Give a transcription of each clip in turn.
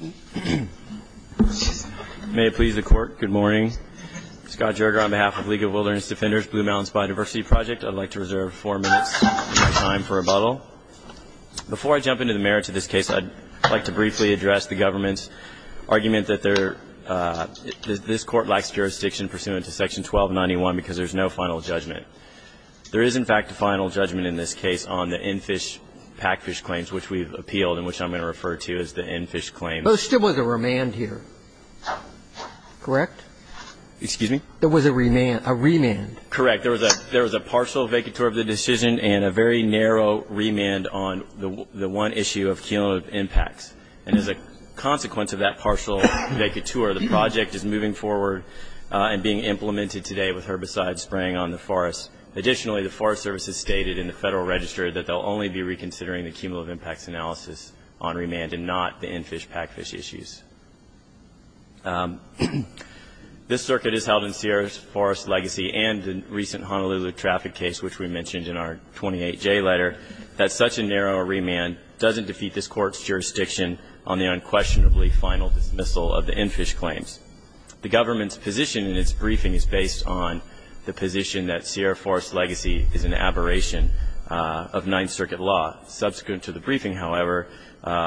May it please the Court, good morning. Scott Jerger on behalf of League of Wilderness Defenders, Blue Mountains Biodiversity Project. I'd like to reserve four minutes of my time for rebuttal. Before I jump into the merits of this case, I'd like to briefly address the government's argument that this Court lacks jurisdiction pursuant to Section 1291 because there's no final judgment. There is, in fact, a final judgment in this case on the in-fish, pack-fish claims which we've appealed and which I'm going to refer to as the in-fish claims. There still was a remand here, correct? Excuse me? There was a remand. Correct. There was a partial vacatur of the decision and a very narrow remand on the one issue of cumulative impacts. And as a consequence of that partial vacatur, the project is moving forward and being implemented today with herbicide spraying on the forest. Additionally, the Forest Service has stated in the Federal Register that they'll only be reconsidering the cumulative impacts analysis on remand and not the in-fish, pack-fish issues. This circuit is held in Sierra Forest Legacy and the recent Honolulu traffic case, which we mentioned in our 28-J letter, that such a narrow remand doesn't defeat this Court's jurisdiction on the unquestionably final dismissal of the in-fish claims. The government's position in its briefing is based on the position that Sierra Forest Legacy is an aberration of Ninth Circuit law. Subsequent to the briefing, however,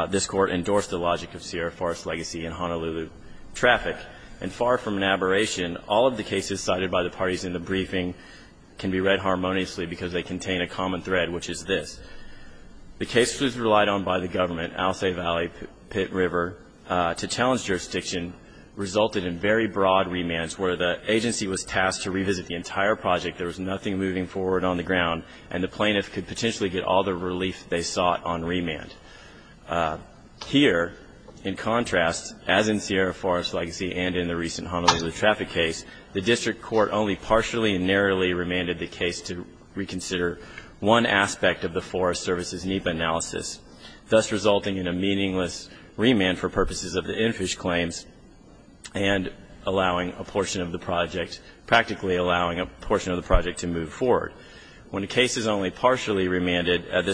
this Court endorsed the logic of Sierra Forest Legacy and Honolulu traffic. And far from an aberration, all of the cases cited by the parties in the briefing can be read harmoniously because they contain a common thread, which is this. The cases relied on by the government, Alce Valley, Pitt River, to challenge jurisdiction resulted in very broad remands where the agency was tasked to revisit the entire project. There was nothing moving forward on the ground, and the plaintiff could potentially get all the relief they sought on remand. Here, in contrast, as in Sierra Forest Legacy and in the recent Honolulu traffic case, the district court only partially and narrowly remanded the case to reconsider one aspect of the Forest Service's NEPA analysis, thus resulting in a meaningless remand for purposes of the in-fish claims and allowing a portion of the project, practically allowing a portion of the project to move forward. When a case is only partially remanded, as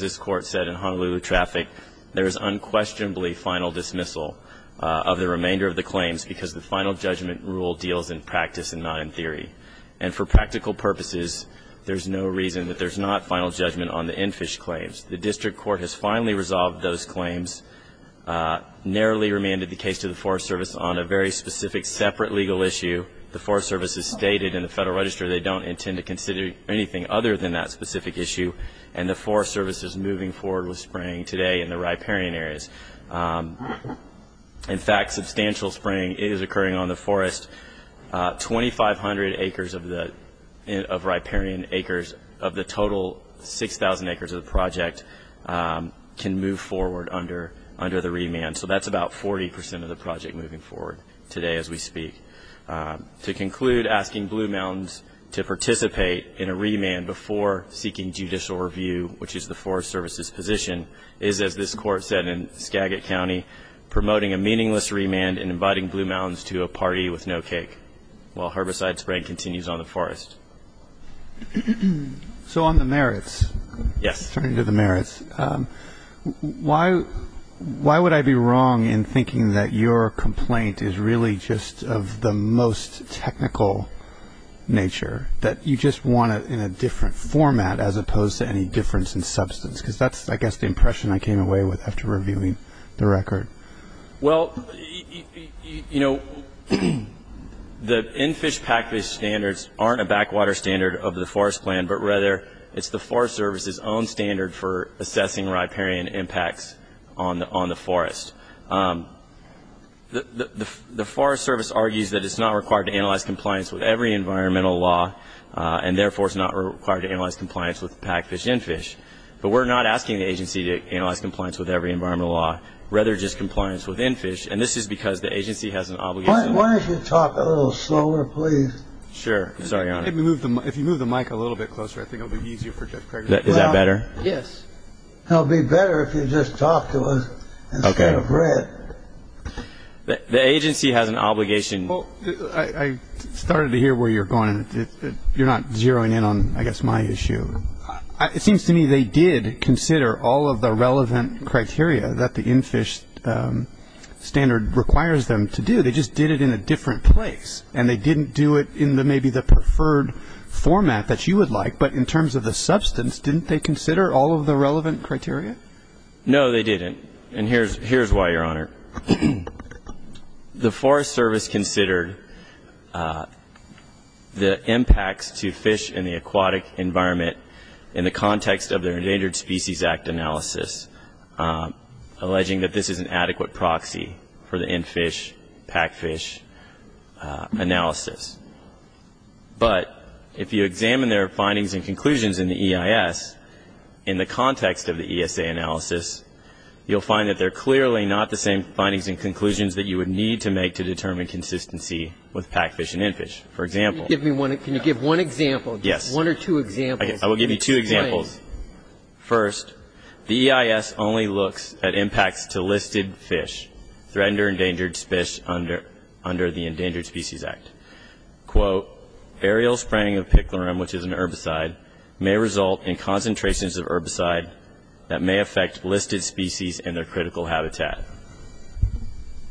this Court said in Honolulu traffic, there is unquestionably final dismissal of the remainder of the claims because the final judgment rule deals in practice and not in theory. And for practical purposes, there's no reason that there's not final judgment on the in-fish claims. The district court has finally resolved those claims, narrowly remanded the case to the Forest Service on a very specific separate legal issue. The Forest Service has stated in the Federal Register they don't intend to consider anything other than that specific issue, and the Forest Service is moving forward with spraying today in the riparian areas. In fact, substantial spraying is occurring on the forest. 2,500 acres of riparian acres of the total 6,000 acres of the project can move forward under the remand. So that's about 40 percent of the project moving forward today as we speak. To conclude, asking Blue Mountains to participate in a remand before seeking judicial review, which is the Forest Service's position, is, as this Court said in Skagit County, promoting a meaningless remand and inviting Blue Mountains to a party with no cake while herbicide spraying continues on the forest. So on the merits. Yes. Turning to the merits. Why would I be wrong in thinking that your complaint is really just of the most technical nature, that you just want it in a different format as opposed to any difference in substance? Because that's, I guess, the impression I came away with after reviewing the record. Well, you know, the NFISH-PACFISH standards aren't a backwater standard of the Forest Plan, but rather it's the Forest Service's own standard for assessing riparian impacts on the forest. The Forest Service argues that it's not required to analyze compliance with every environmental law, and therefore it's not required to analyze compliance with PACFISH-NFISH. But we're not asking the agency to analyze compliance with every environmental law, rather just compliance with NFISH, and this is because the agency has an obligation. Why don't you talk a little slower, please? Sure. Sorry, Your Honor. If you move the mic a little bit closer, I think it'll be easier for Judge Craig to hear. Is that better? Yes. It'll be better if you just talk to us instead of read. Okay. The agency has an obligation. Well, I started to hear where you're going. You're not zeroing in on, I guess, my issue. It seems to me they did consider all of the relevant criteria that the NFISH standard requires them to do. They just did it in a different place, and they didn't do it in maybe the preferred format that you would like. But in terms of the substance, didn't they consider all of the relevant criteria? No, they didn't, and here's why, Your Honor. The Forest Service considered the impacts to fish in the aquatic environment in the context of their Endangered Species Act analysis, alleging that this is an adequate proxy for the NFISH PACFISH analysis. But if you examine their findings and conclusions in the EIS, in the context of the ESA analysis, you'll find that they're clearly not the same findings and conclusions that you would need to make to determine consistency with PACFISH and NFISH. For example. Can you give one example? Yes. One or two examples. I will give you two examples. First, the EIS only looks at impacts to listed fish, threatened or endangered fish, under the Endangered Species Act. Quote, aerial spraying of picloram, which is an herbicide, may result in concentrations of herbicide that may affect listed species and their critical habitat.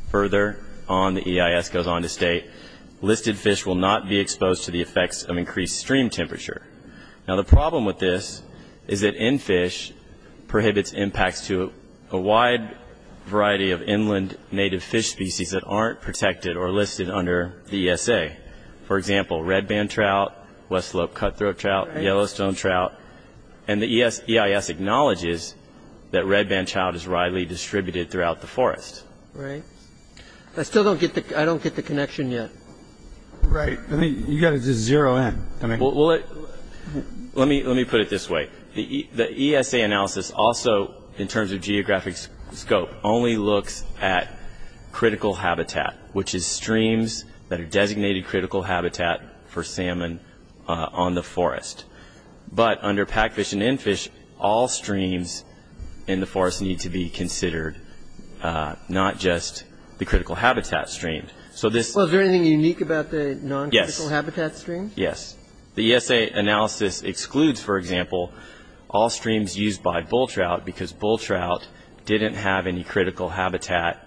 Further on, the EIS goes on to state, listed fish will not be exposed to the effects of increased stream temperature. Now, the problem with this is that NFISH prohibits impacts to a wide variety of inland native fish species that aren't protected or listed under the ESA. For example, Red Band Trout, West Slope Cutthroat Trout, Yellowstone Trout. And the EIS acknowledges that Red Band Trout is widely distributed throughout the forest. Right. I still don't get the connection yet. Right. You've got to zero in. Let me put it this way. The ESA analysis also, in terms of geographic scope, only looks at critical habitat, which is streams that are designated critical habitat for salmon on the forest. But under Pack Fish and NFISH, all streams in the forest need to be considered, not just the critical habitat stream. Well, is there anything unique about the non-critical habitat streams? Yes. The ESA analysis excludes, for example, all streams used by bull trout, because bull trout didn't have any critical habitat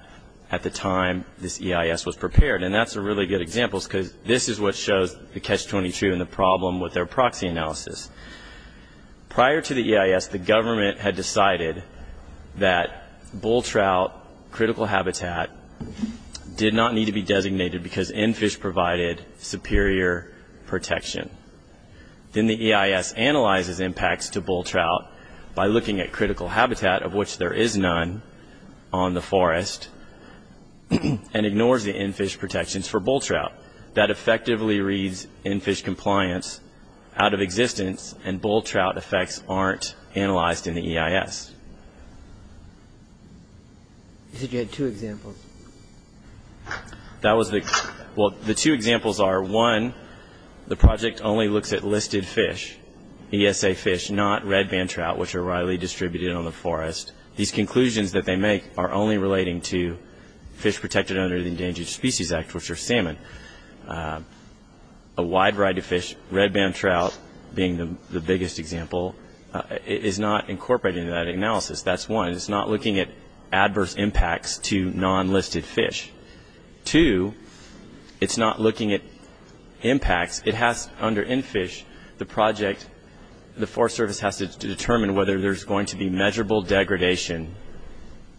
at the time this EIS was prepared. And that's a really good example because this is what shows the Catch-22 and the problem with their proxy analysis. Prior to the EIS, the government had decided that bull trout critical habitat did not need to be designated because NFISH provided superior protection. Then the EIS analyzes impacts to bull trout by looking at critical habitat, of which there is none on the forest, and ignores the NFISH protections for bull trout. That effectively reads NFISH compliance out of existence, and bull trout effects aren't analyzed in the EIS. You said you had two examples. Well, the two examples are, one, the project only looks at listed fish, ESA fish, not red band trout, which are widely distributed on the forest. These conclusions that they make are only relating to fish protected under the Endangered Species Act, which are salmon. A wide variety of fish, red band trout being the biggest example, is not incorporated in that analysis. That's one. It's not looking at adverse impacts to non-listed fish. Two, it's not looking at impacts. Under NFISH, the forest service has to determine whether there's going to be measurable degradation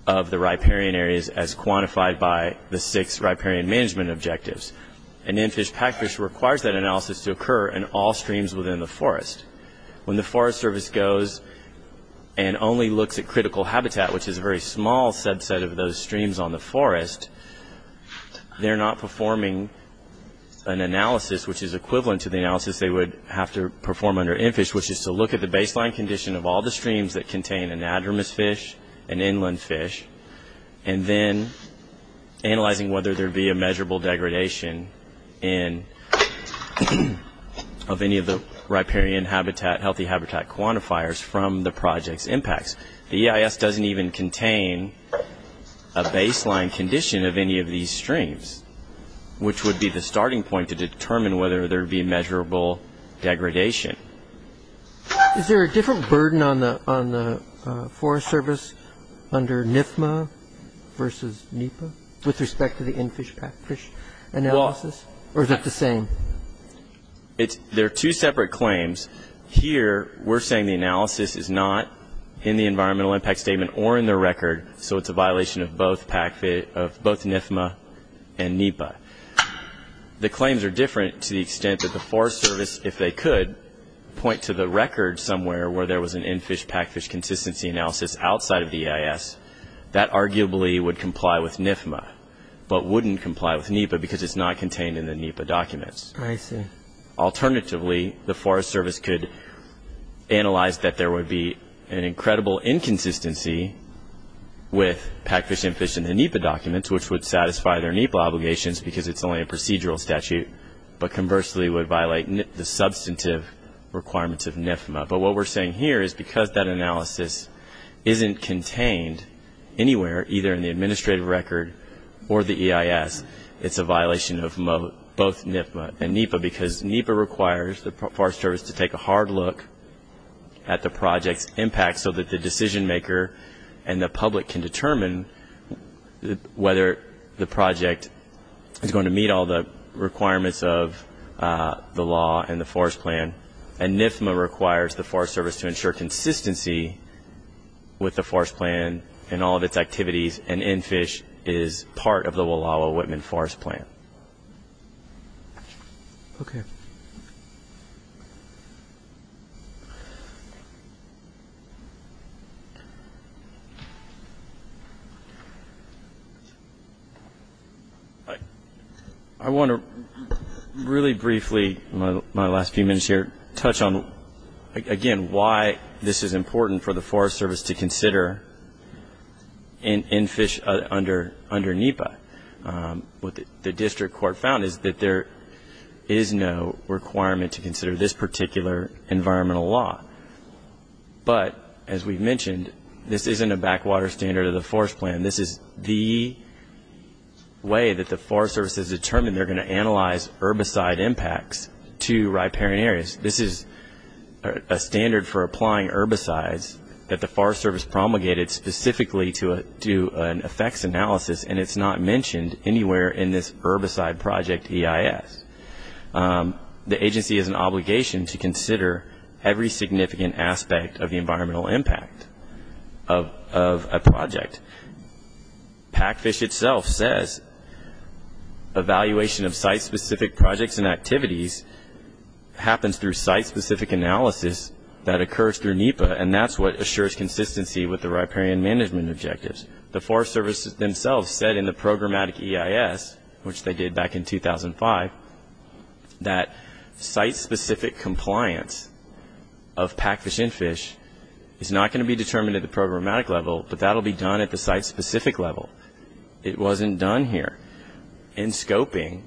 of the riparian areas as quantified by the six riparian management objectives. And NFISH PACFISH requires that analysis to occur in all streams within the forest. When the forest service goes and only looks at critical habitat, which is a very small subset of those streams on the forest, they're not performing an analysis which is equivalent to the analysis they would have to perform under NFISH, which is to look at the baseline condition of all the streams that contain anadromous fish and inland fish, and then analyzing whether there'd be a measurable degradation of any of the riparian habitat, healthy habitat quantifiers from the project's impacts. The EIS doesn't even contain a baseline condition of any of these streams, which would be the starting point to determine whether there'd be measurable degradation. Is there a different burden on the forest service under NFMA versus NEPA with respect to the NFISH PACFISH analysis, or is it the same? There are two separate claims. Here, we're saying the analysis is not in the environmental impact statement or in the record, so it's a violation of both NFMA and NEPA. The claims are different to the extent that the forest service, if they could, point to the record somewhere where there was an NFISH PACFISH consistency analysis outside of the EIS, that arguably would comply with NFMA, but wouldn't comply with NEPA because it's not contained in the NEPA documents. I see. Alternatively, the forest service could analyze that there would be an incredible inconsistency with PACFISH, NFISH, and the NEPA documents, which would satisfy their NEPA obligations because it's only a procedural statute, but conversely would violate the substantive requirements of NEPA. But what we're saying here is because that analysis isn't contained anywhere, either in the administrative record or the EIS, it's a violation of both NEPA and NEPA because NEPA requires the forest service to take a hard look at the project's impact so that the decision maker and the public can determine whether the project is going to meet all the requirements of the law and the forest plan. And NFMA requires the forest service to ensure consistency with the forest plan and all of its activities, and NFISH is part of the Wallowa-Whitman Forest Plan. Okay. I want to really briefly, in my last few minutes here, touch on, again, why this is important for the forest service to consider NFISH under NEPA, what the district court found is that there is no requirement to consider this particular environmental law. But, as we've mentioned, this isn't a backwater standard of the forest plan. This is the way that the forest service has determined they're going to analyze herbicide impacts to riparian areas. This is a standard for applying herbicides that the forest service promulgated specifically to do an effects analysis, and it's not mentioned anywhere in this herbicide project EIS. The agency has an obligation to consider every significant aspect of the environmental impact of a project. PACFISH itself says evaluation of site-specific projects and activities happens through site-specific analysis that occurs through NEPA, and that's what assures consistency with the riparian management objectives. The forest service themselves said in the programmatic EIS, which they did back in 2005, that site-specific compliance of PACFISH NFISH is not going to be determined at the programmatic level, but that will be done at the site-specific level. It wasn't done here. In scoping,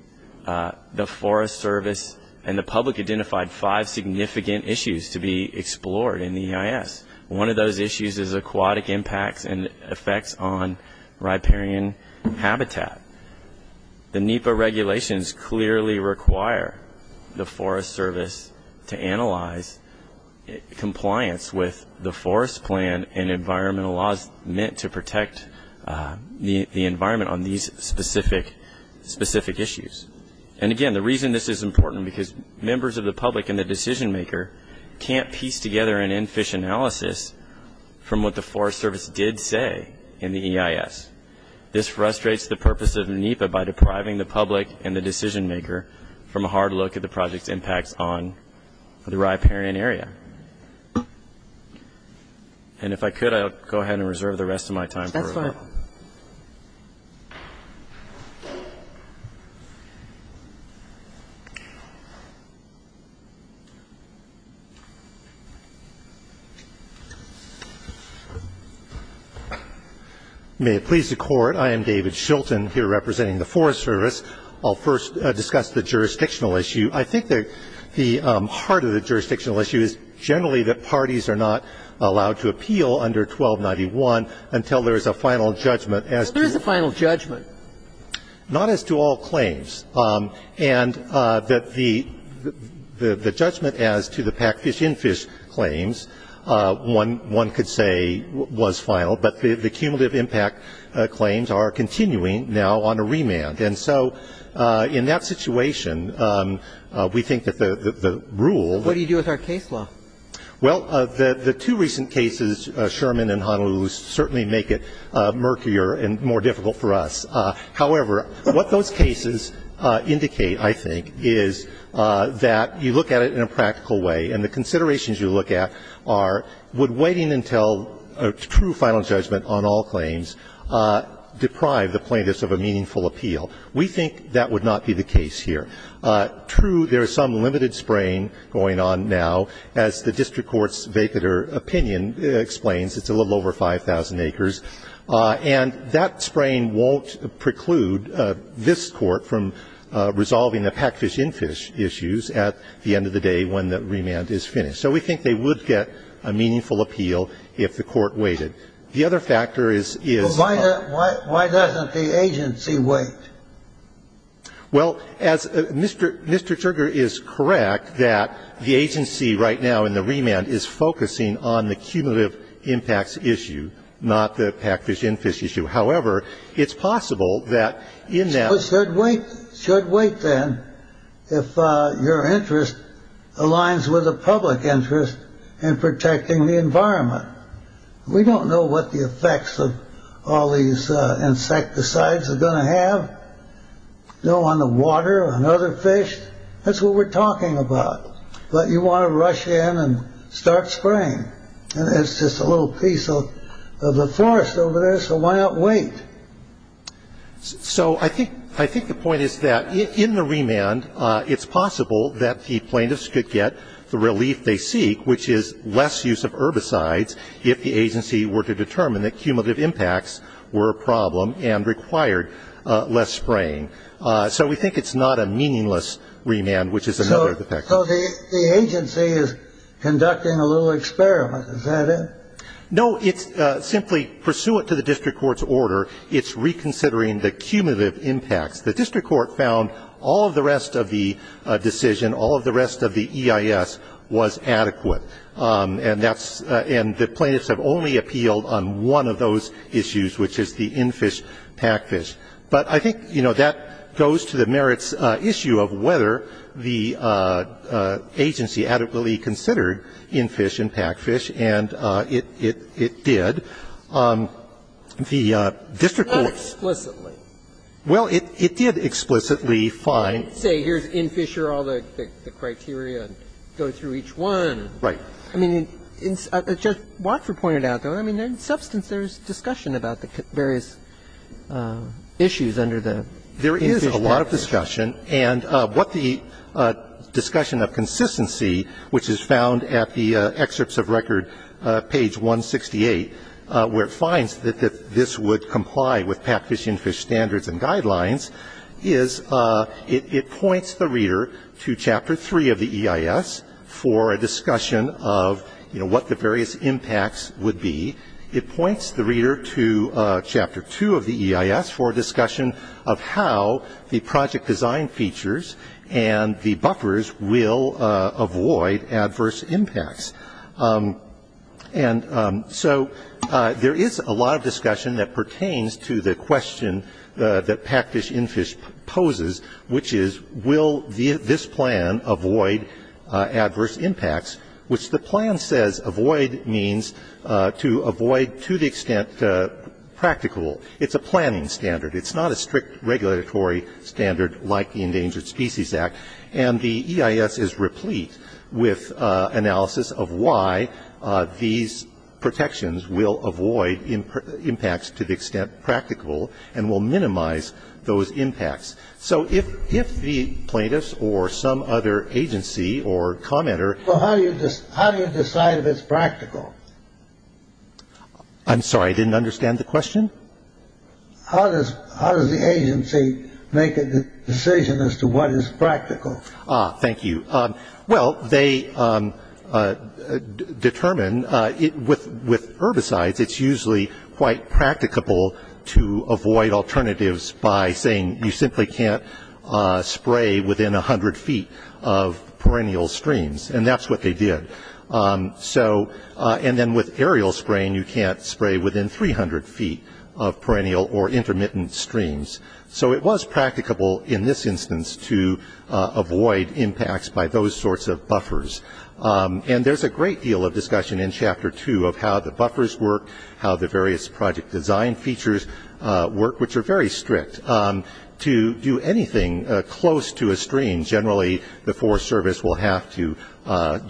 the forest service and the public identified five significant issues to be explored in the EIS. One of those issues is aquatic impacts and effects on riparian habitat. The NEPA regulations clearly require the forest service to analyze compliance with the forest plan and environmental laws meant to protect the environment on these specific issues. And again, the reason this is important is because members of the public and the decision maker can't piece together an NFISH analysis from what the forest service did say in the EIS. This frustrates the purpose of NEPA by depriving the public and the decision maker from a hard look at the project's impacts on the riparian area. And if I could, I'll go ahead and reserve the rest of my time. That's fine. May it please the Court, I am David Shilton here representing the Forest Service. I'll first discuss the jurisdictional issue. I think the heart of the jurisdictional issue is generally that parties are not allowed to appeal under 1291 until there is a final judgment as to the final judgment. What is the final judgment? Not as to all claims. And that the judgment as to the PACFISH-NFISH claims, one could say was final. But the cumulative impact claims are continuing now on a remand. And so in that situation, we think that the rules. What do you do with our case law? Well, the two recent cases, Sherman and Honolulu, certainly make it murkier and more difficult for us. However, what those cases indicate, I think, is that you look at it in a practical way, and the considerations you look at are would waiting until a true final judgment on all claims deprive the plaintiffs of a meaningful appeal. We think that would not be the case here. True, there is some limited spraying going on now. As the district court's vapid opinion explains, it's a little over 5,000 acres. And that spraying won't preclude this Court from resolving the PACFISH-NFISH issues at the end of the day when the remand is finished. So we think they would get a meaningful appeal if the Court waited. The other factor is. Well, why doesn't the agency wait? Well, as Mr. Jerger is correct, that the agency right now in the remand is focusing on the cumulative impacts issue, not the PACFISH-NFISH issue. However, it's possible that in that. So it should wait, then, if your interest aligns with the public interest in protecting the environment. We don't know what the effects of all these insecticides are going to have on the water or on other fish. That's what we're talking about. But you want to rush in and start spraying. It's just a little piece of the forest over there, so why not wait? So I think the point is that in the remand, it's possible that the plaintiffs could get the relief they seek, which is less use of herbicides, if the agency were to determine that cumulative impacts were a problem and required less spraying. So we think it's not a meaningless remand, which is another effect. So the agency is conducting a little experiment. Is that it? No, it's simply pursuant to the district court's order. It's reconsidering the cumulative impacts. The district court found all of the rest of the decision, all of the rest of the EIS, was adequate. And that's the plaintiffs have only appealed on one of those issues, which is the in-fish, pack-fish. But I think, you know, that goes to the merits issue of whether the agency adequately considered in-fish and pack-fish, and it did. The district court's. Not explicitly. Well, it did explicitly find. Say, here's in-fisher, all the criteria, go through each one. Right. I mean, as Judge Watford pointed out, though, I mean, in substance, there's discussion about the various issues under the in-fish, pack-fish. There is a lot of discussion. And what the discussion of consistency, which is found at the excerpts of record page 168, where it finds that this would comply with pack-fish, in-fish standards and guidelines, is it points the reader to Chapter 3 of the EIS for a discussion of, you know, what the various impacts would be. It points the reader to Chapter 2 of the EIS for a discussion of how the project design features and the buffers will avoid adverse impacts. And so there is a lot of discussion that pertains to the question that pack-fish, in-fish poses, which is will this plan avoid adverse impacts, which the plan says avoid means to avoid to the extent practical. It's a planning standard. It's not a strict regulatory standard like the Endangered Species Act. And the EIS is replete with analysis of why these protections will avoid impacts to the extent practical and will minimize those impacts. So if the plaintiffs or some other agency or commenter ---- So how do you decide if it's practical? I'm sorry. I didn't understand the question. How does the agency make a decision as to what is practical? Thank you. Well, they determine with herbicides it's usually quite practicable to avoid alternatives by saying you simply can't spray within 100 feet of perennial streams. And that's what they did. And then with aerial spraying, you can't spray within 300 feet of perennial or intermittent streams. So it was practicable in this instance to avoid impacts by those sorts of buffers. And there's a great deal of discussion in Chapter 2 of how the buffers work, how the various project design features work, which are very strict. To do anything close to a stream, generally the Forest Service will have to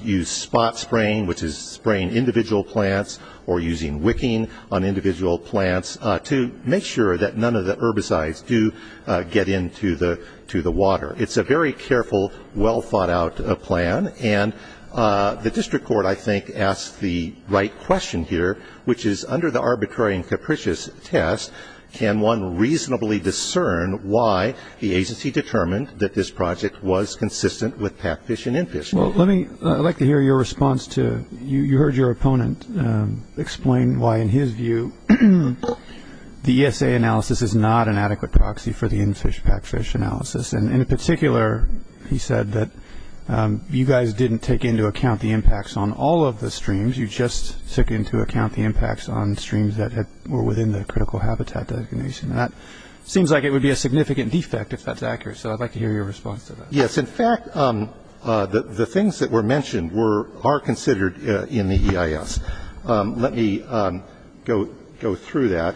use spot spraying, which is spraying individual plants or using wicking on individual plants, to make sure that none of the herbicides do get into the water. It's a very careful, well-thought-out plan. And the district court, I think, asked the right question here, which is under the arbitrary and capricious test, can one reasonably discern why the agency determined that this project was consistent with PACFISH and NFISH? Well, let me ñ I'd like to hear your response to ñ you heard your opponent explain why, in his view, the ESA analysis is not an adequate proxy for the NFISH-PACFISH analysis. And in particular, he said that you guys didn't take into account the impacts on all of the streams, you just took into account the impacts on streams that were within the critical habitat designation. And that seems like it would be a significant defect, if that's accurate. So I'd like to hear your response to that. Yes, in fact, the things that were mentioned are considered in the EIS. Let me go through that.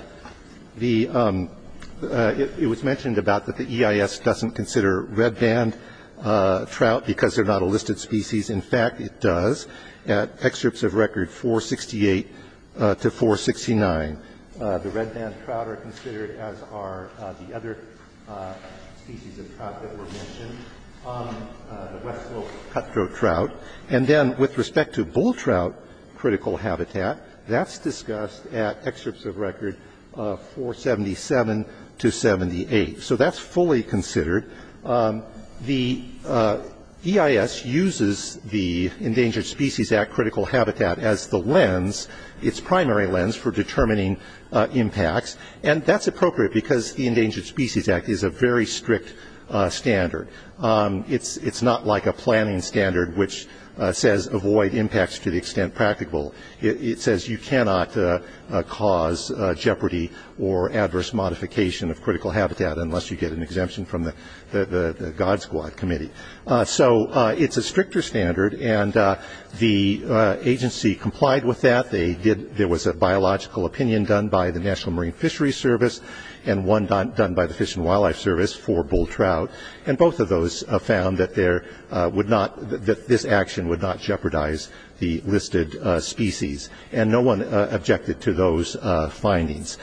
It was mentioned about that the EIS doesn't consider red-band trout because they're not a listed species. In fact, it does, at excerpts of record 468 to 469. The red-band trout are considered, as are the other species of trout that were mentioned, the west slope cutthroat trout. And then with respect to bull trout critical habitat, that's discussed at excerpts of record 477 to 78. So that's fully considered. The EIS uses the Endangered Species Act critical habitat as the lens, its primary lens, for determining impacts. And that's appropriate because the Endangered Species Act is a very strict standard. It's not like a planning standard which says avoid impacts to the extent practicable. It says you cannot cause jeopardy or adverse modification of critical habitat unless you get an exemption from the God Squad Committee. So it's a stricter standard, and the agency complied with that. There was a biological opinion done by the National Marine Fisheries Service and one done by the Fish and Wildlife Service for bull trout. And both of those found that this action would not jeopardize the listed species. And no one objected to those findings.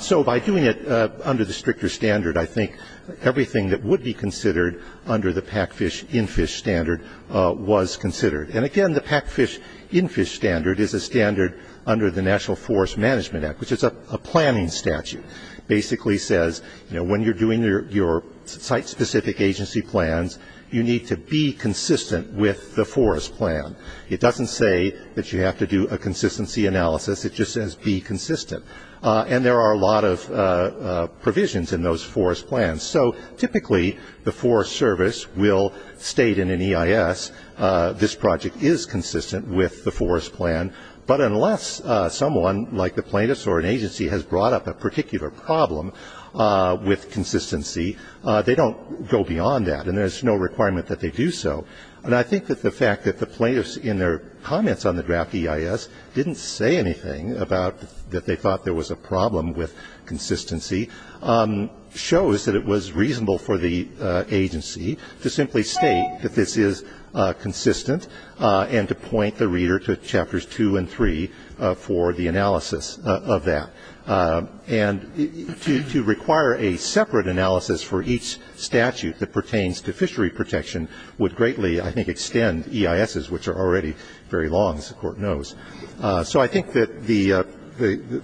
So by doing it under the stricter standard, I think everything that would be considered under the pack fish in fish standard was considered. And again, the pack fish in fish standard is a standard under the National Forest Management Act, which is a planning statute. It basically says when you're doing your site-specific agency plans, you need to be consistent with the forest plan. It doesn't say that you have to do a consistency analysis. It just says be consistent. And there are a lot of provisions in those forest plans. So typically the Forest Service will state in an EIS this project is consistent with the forest plan. But unless someone like the plaintiffs or an agency has brought up a particular problem with consistency, they don't go beyond that. And there's no requirement that they do so. And I think that the fact that the plaintiffs in their comments on the draft EIS didn't say anything about that they thought there was a problem with consistency shows that it was reasonable for the agency to simply state that this is consistent and to point the reader to Chapters 2 and 3 for the analysis of that. And to require a separate analysis for each statute that pertains to fishery protection would greatly, I think, extend EISs, which are already very long, as the Court knows. So I think that the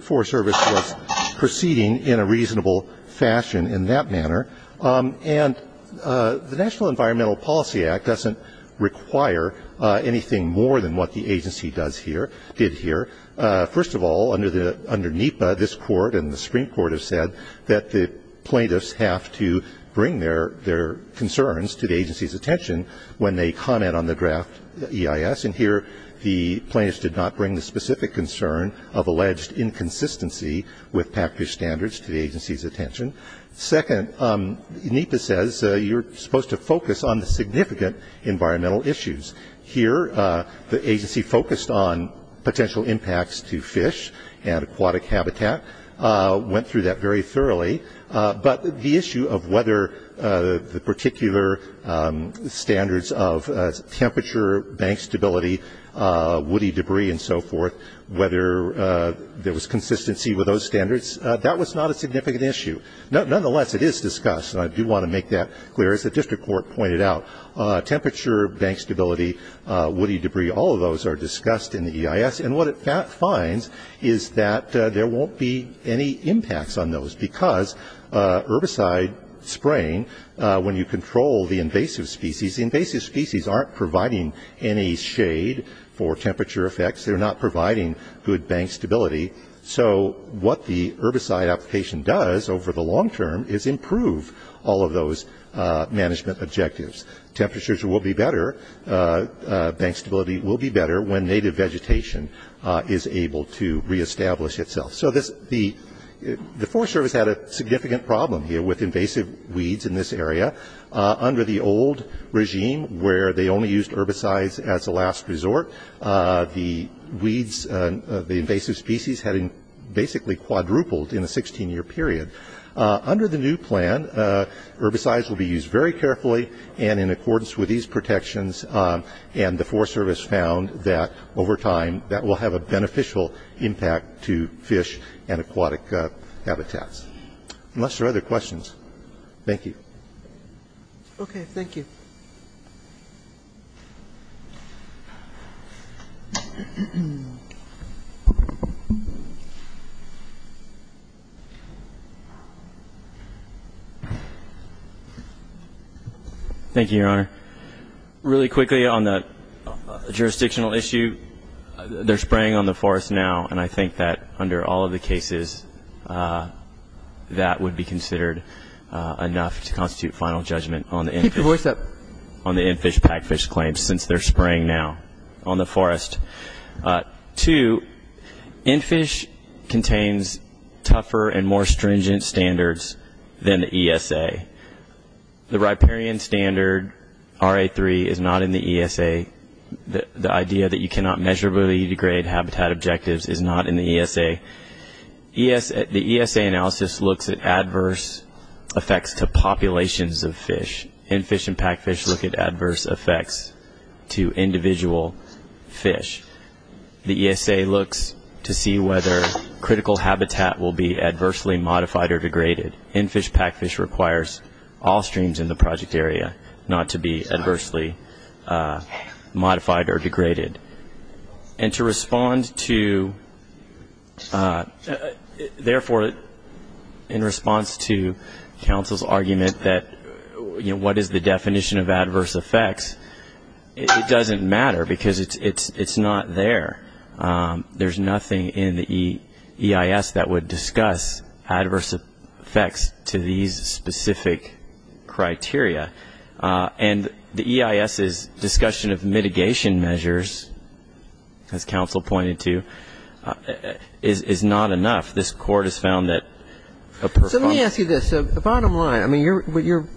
Forest Service was proceeding in a reasonable fashion in that manner. And the National Environmental Policy Act doesn't require anything more than what the agency did here. First of all, under NEPA, this Court and the Supreme Court have said that the plaintiffs have to bring their concerns to the agency's attention when they comment on the draft EIS. And here the plaintiffs did not bring the specific concern of alleged inconsistency with package standards to the agency's attention. Second, NEPA says you're supposed to focus on the significant environmental issues. Here the agency focused on potential impacts to fish and aquatic habitat, went through that very thoroughly. But the issue of whether the particular standards of temperature, bank stability, woody debris and so forth, whether there was consistency with those standards, that was not a significant issue. Nonetheless, it is discussed, and I do want to make that clear, as the district court pointed out, temperature, bank stability, woody debris, all of those are discussed in the EIS. And what it finds is that there won't be any impacts on those because herbicide spraying, when you control the invasive species, the invasive species aren't providing any shade for temperature effects. They're not providing good bank stability. So what the herbicide application does over the long term is improve all of those management objectives. Temperatures will be better, bank stability will be better when native vegetation is able to reestablish itself. So the Forest Service had a significant problem here with invasive weeds in this area. Under the old regime, where they only used herbicides as a last resort, the weeds, the invasive species, had basically quadrupled in a 16-year period. Under the new plan, herbicides will be used very carefully and in accordance with these protections, and the Forest Service found that over time that will have a beneficial impact to fish and aquatic habitats. Unless there are other questions. Thank you. Okay. Thank you. Thank you, Your Honor. Really quickly on the jurisdictional issue, they're spraying on the forest now, and I think that under all of the cases that would be considered enough to constitute final judgment on the infish. Keep your voice up. On the infish-packed fish claims since they're spraying now on the forest. Two, infish contains tougher and more stringent standards than the ESA. The riparian standard, RA3, is not in the ESA. The idea that you cannot measurably degrade habitat objectives is not in the ESA. The ESA analysis looks at adverse effects to populations of fish. Infish and packed fish look at adverse effects to individual fish. The ESA looks to see whether critical habitat will be adversely modified or degraded. Infish-packed fish requires all streams in the project area not to be adversely modified or degraded. And to respond to, therefore, in response to counsel's argument that, you know, what is the definition of adverse effects, it doesn't matter because it's not there. There's nothing in the EIS that would discuss adverse effects to these specific criteria. And the EIS's discussion of mitigation measures, as counsel pointed to, is not enough. This Court has found that a performance. So let me ask you this. Bottom line, I mean, what your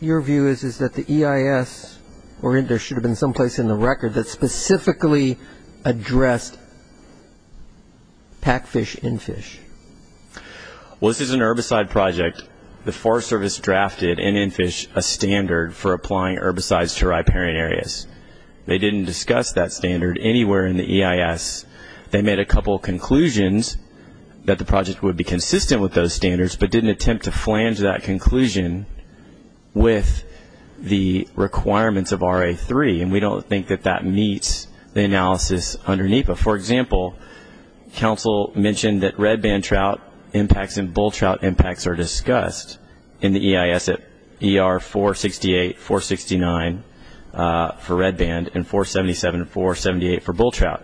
view is is that the EIS, or there should have been someplace in the record that specifically addressed packed fish, infish? Well, this is an herbicide project. The Forest Service drafted in infish a standard for applying herbicides to riparian areas. They didn't discuss that standard anywhere in the EIS. They made a couple conclusions that the project would be consistent with those standards but didn't attempt to flange that conclusion with the requirements of RA3. And we don't think that that meets the analysis under NEPA. For example, counsel mentioned that red band trout impacts and bull trout impacts are discussed in the EIS at ER 468, 469 for red band and 477, 478 for bull trout.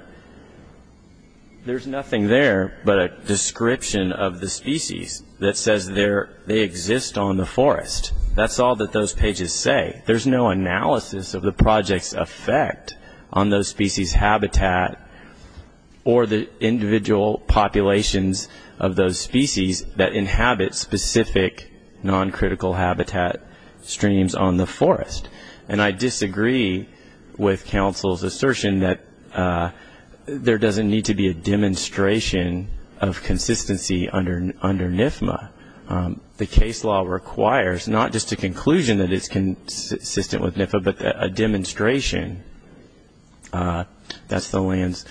There's nothing there but a description of the species that says they exist on the forest. That's all that those pages say. There's no analysis of the project's effect on those species' habitat or the individual populations of those species that inhabit specific non-critical habitat streams on the forest. And I disagree with counsel's assertion that there doesn't need to be a demonstration of consistency under NIFMA. The case law requires not just a conclusion that it's consistent with NIFA but a demonstration. That's the land's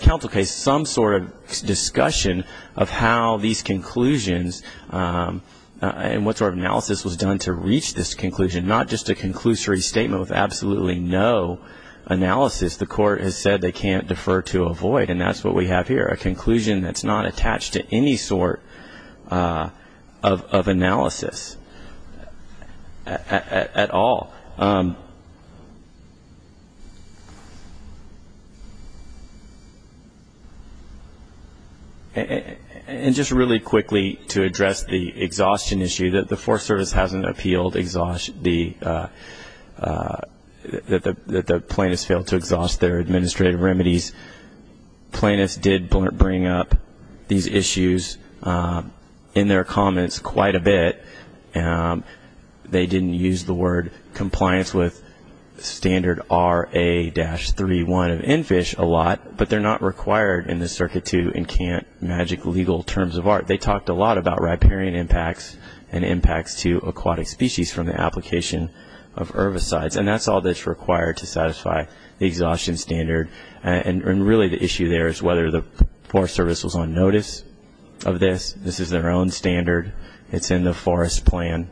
council case, some sort of discussion of how these conclusions and what sort of analysis was done to reach this conclusion, not just a conclusory statement with absolutely no analysis. The court has said they can't defer to a void, and that's what we have here, a conclusion that's not attached to any sort of analysis at all. And just really quickly to address the exhaustion issue, the Forest Service hasn't appealed that the plaintiffs failed to exhaust their administrative remedies. Plaintiffs did bring up these issues in their comments quite a bit. They didn't use the word compliance with standard RA-31 of NFISH a lot, but they're not required in the Circuit to enchant magic legal terms of art. They talked a lot about riparian impacts and impacts to aquatic species from the application of herbicides, and that's all that's required to satisfy the exhaustion standard. And really the issue there is whether the Forest Service was on notice of this. This is their own standard. It's in the forest plan,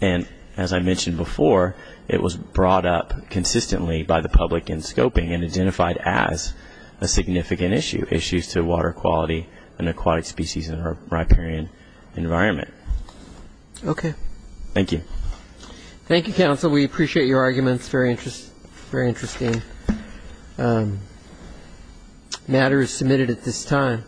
and as I mentioned before, it was brought up consistently by the public in scoping and identified as a significant issue, issues to water quality and aquatic species in a riparian environment. Okay. Thank you. Thank you, counsel. We appreciate your arguments, very interesting matters submitted at this time.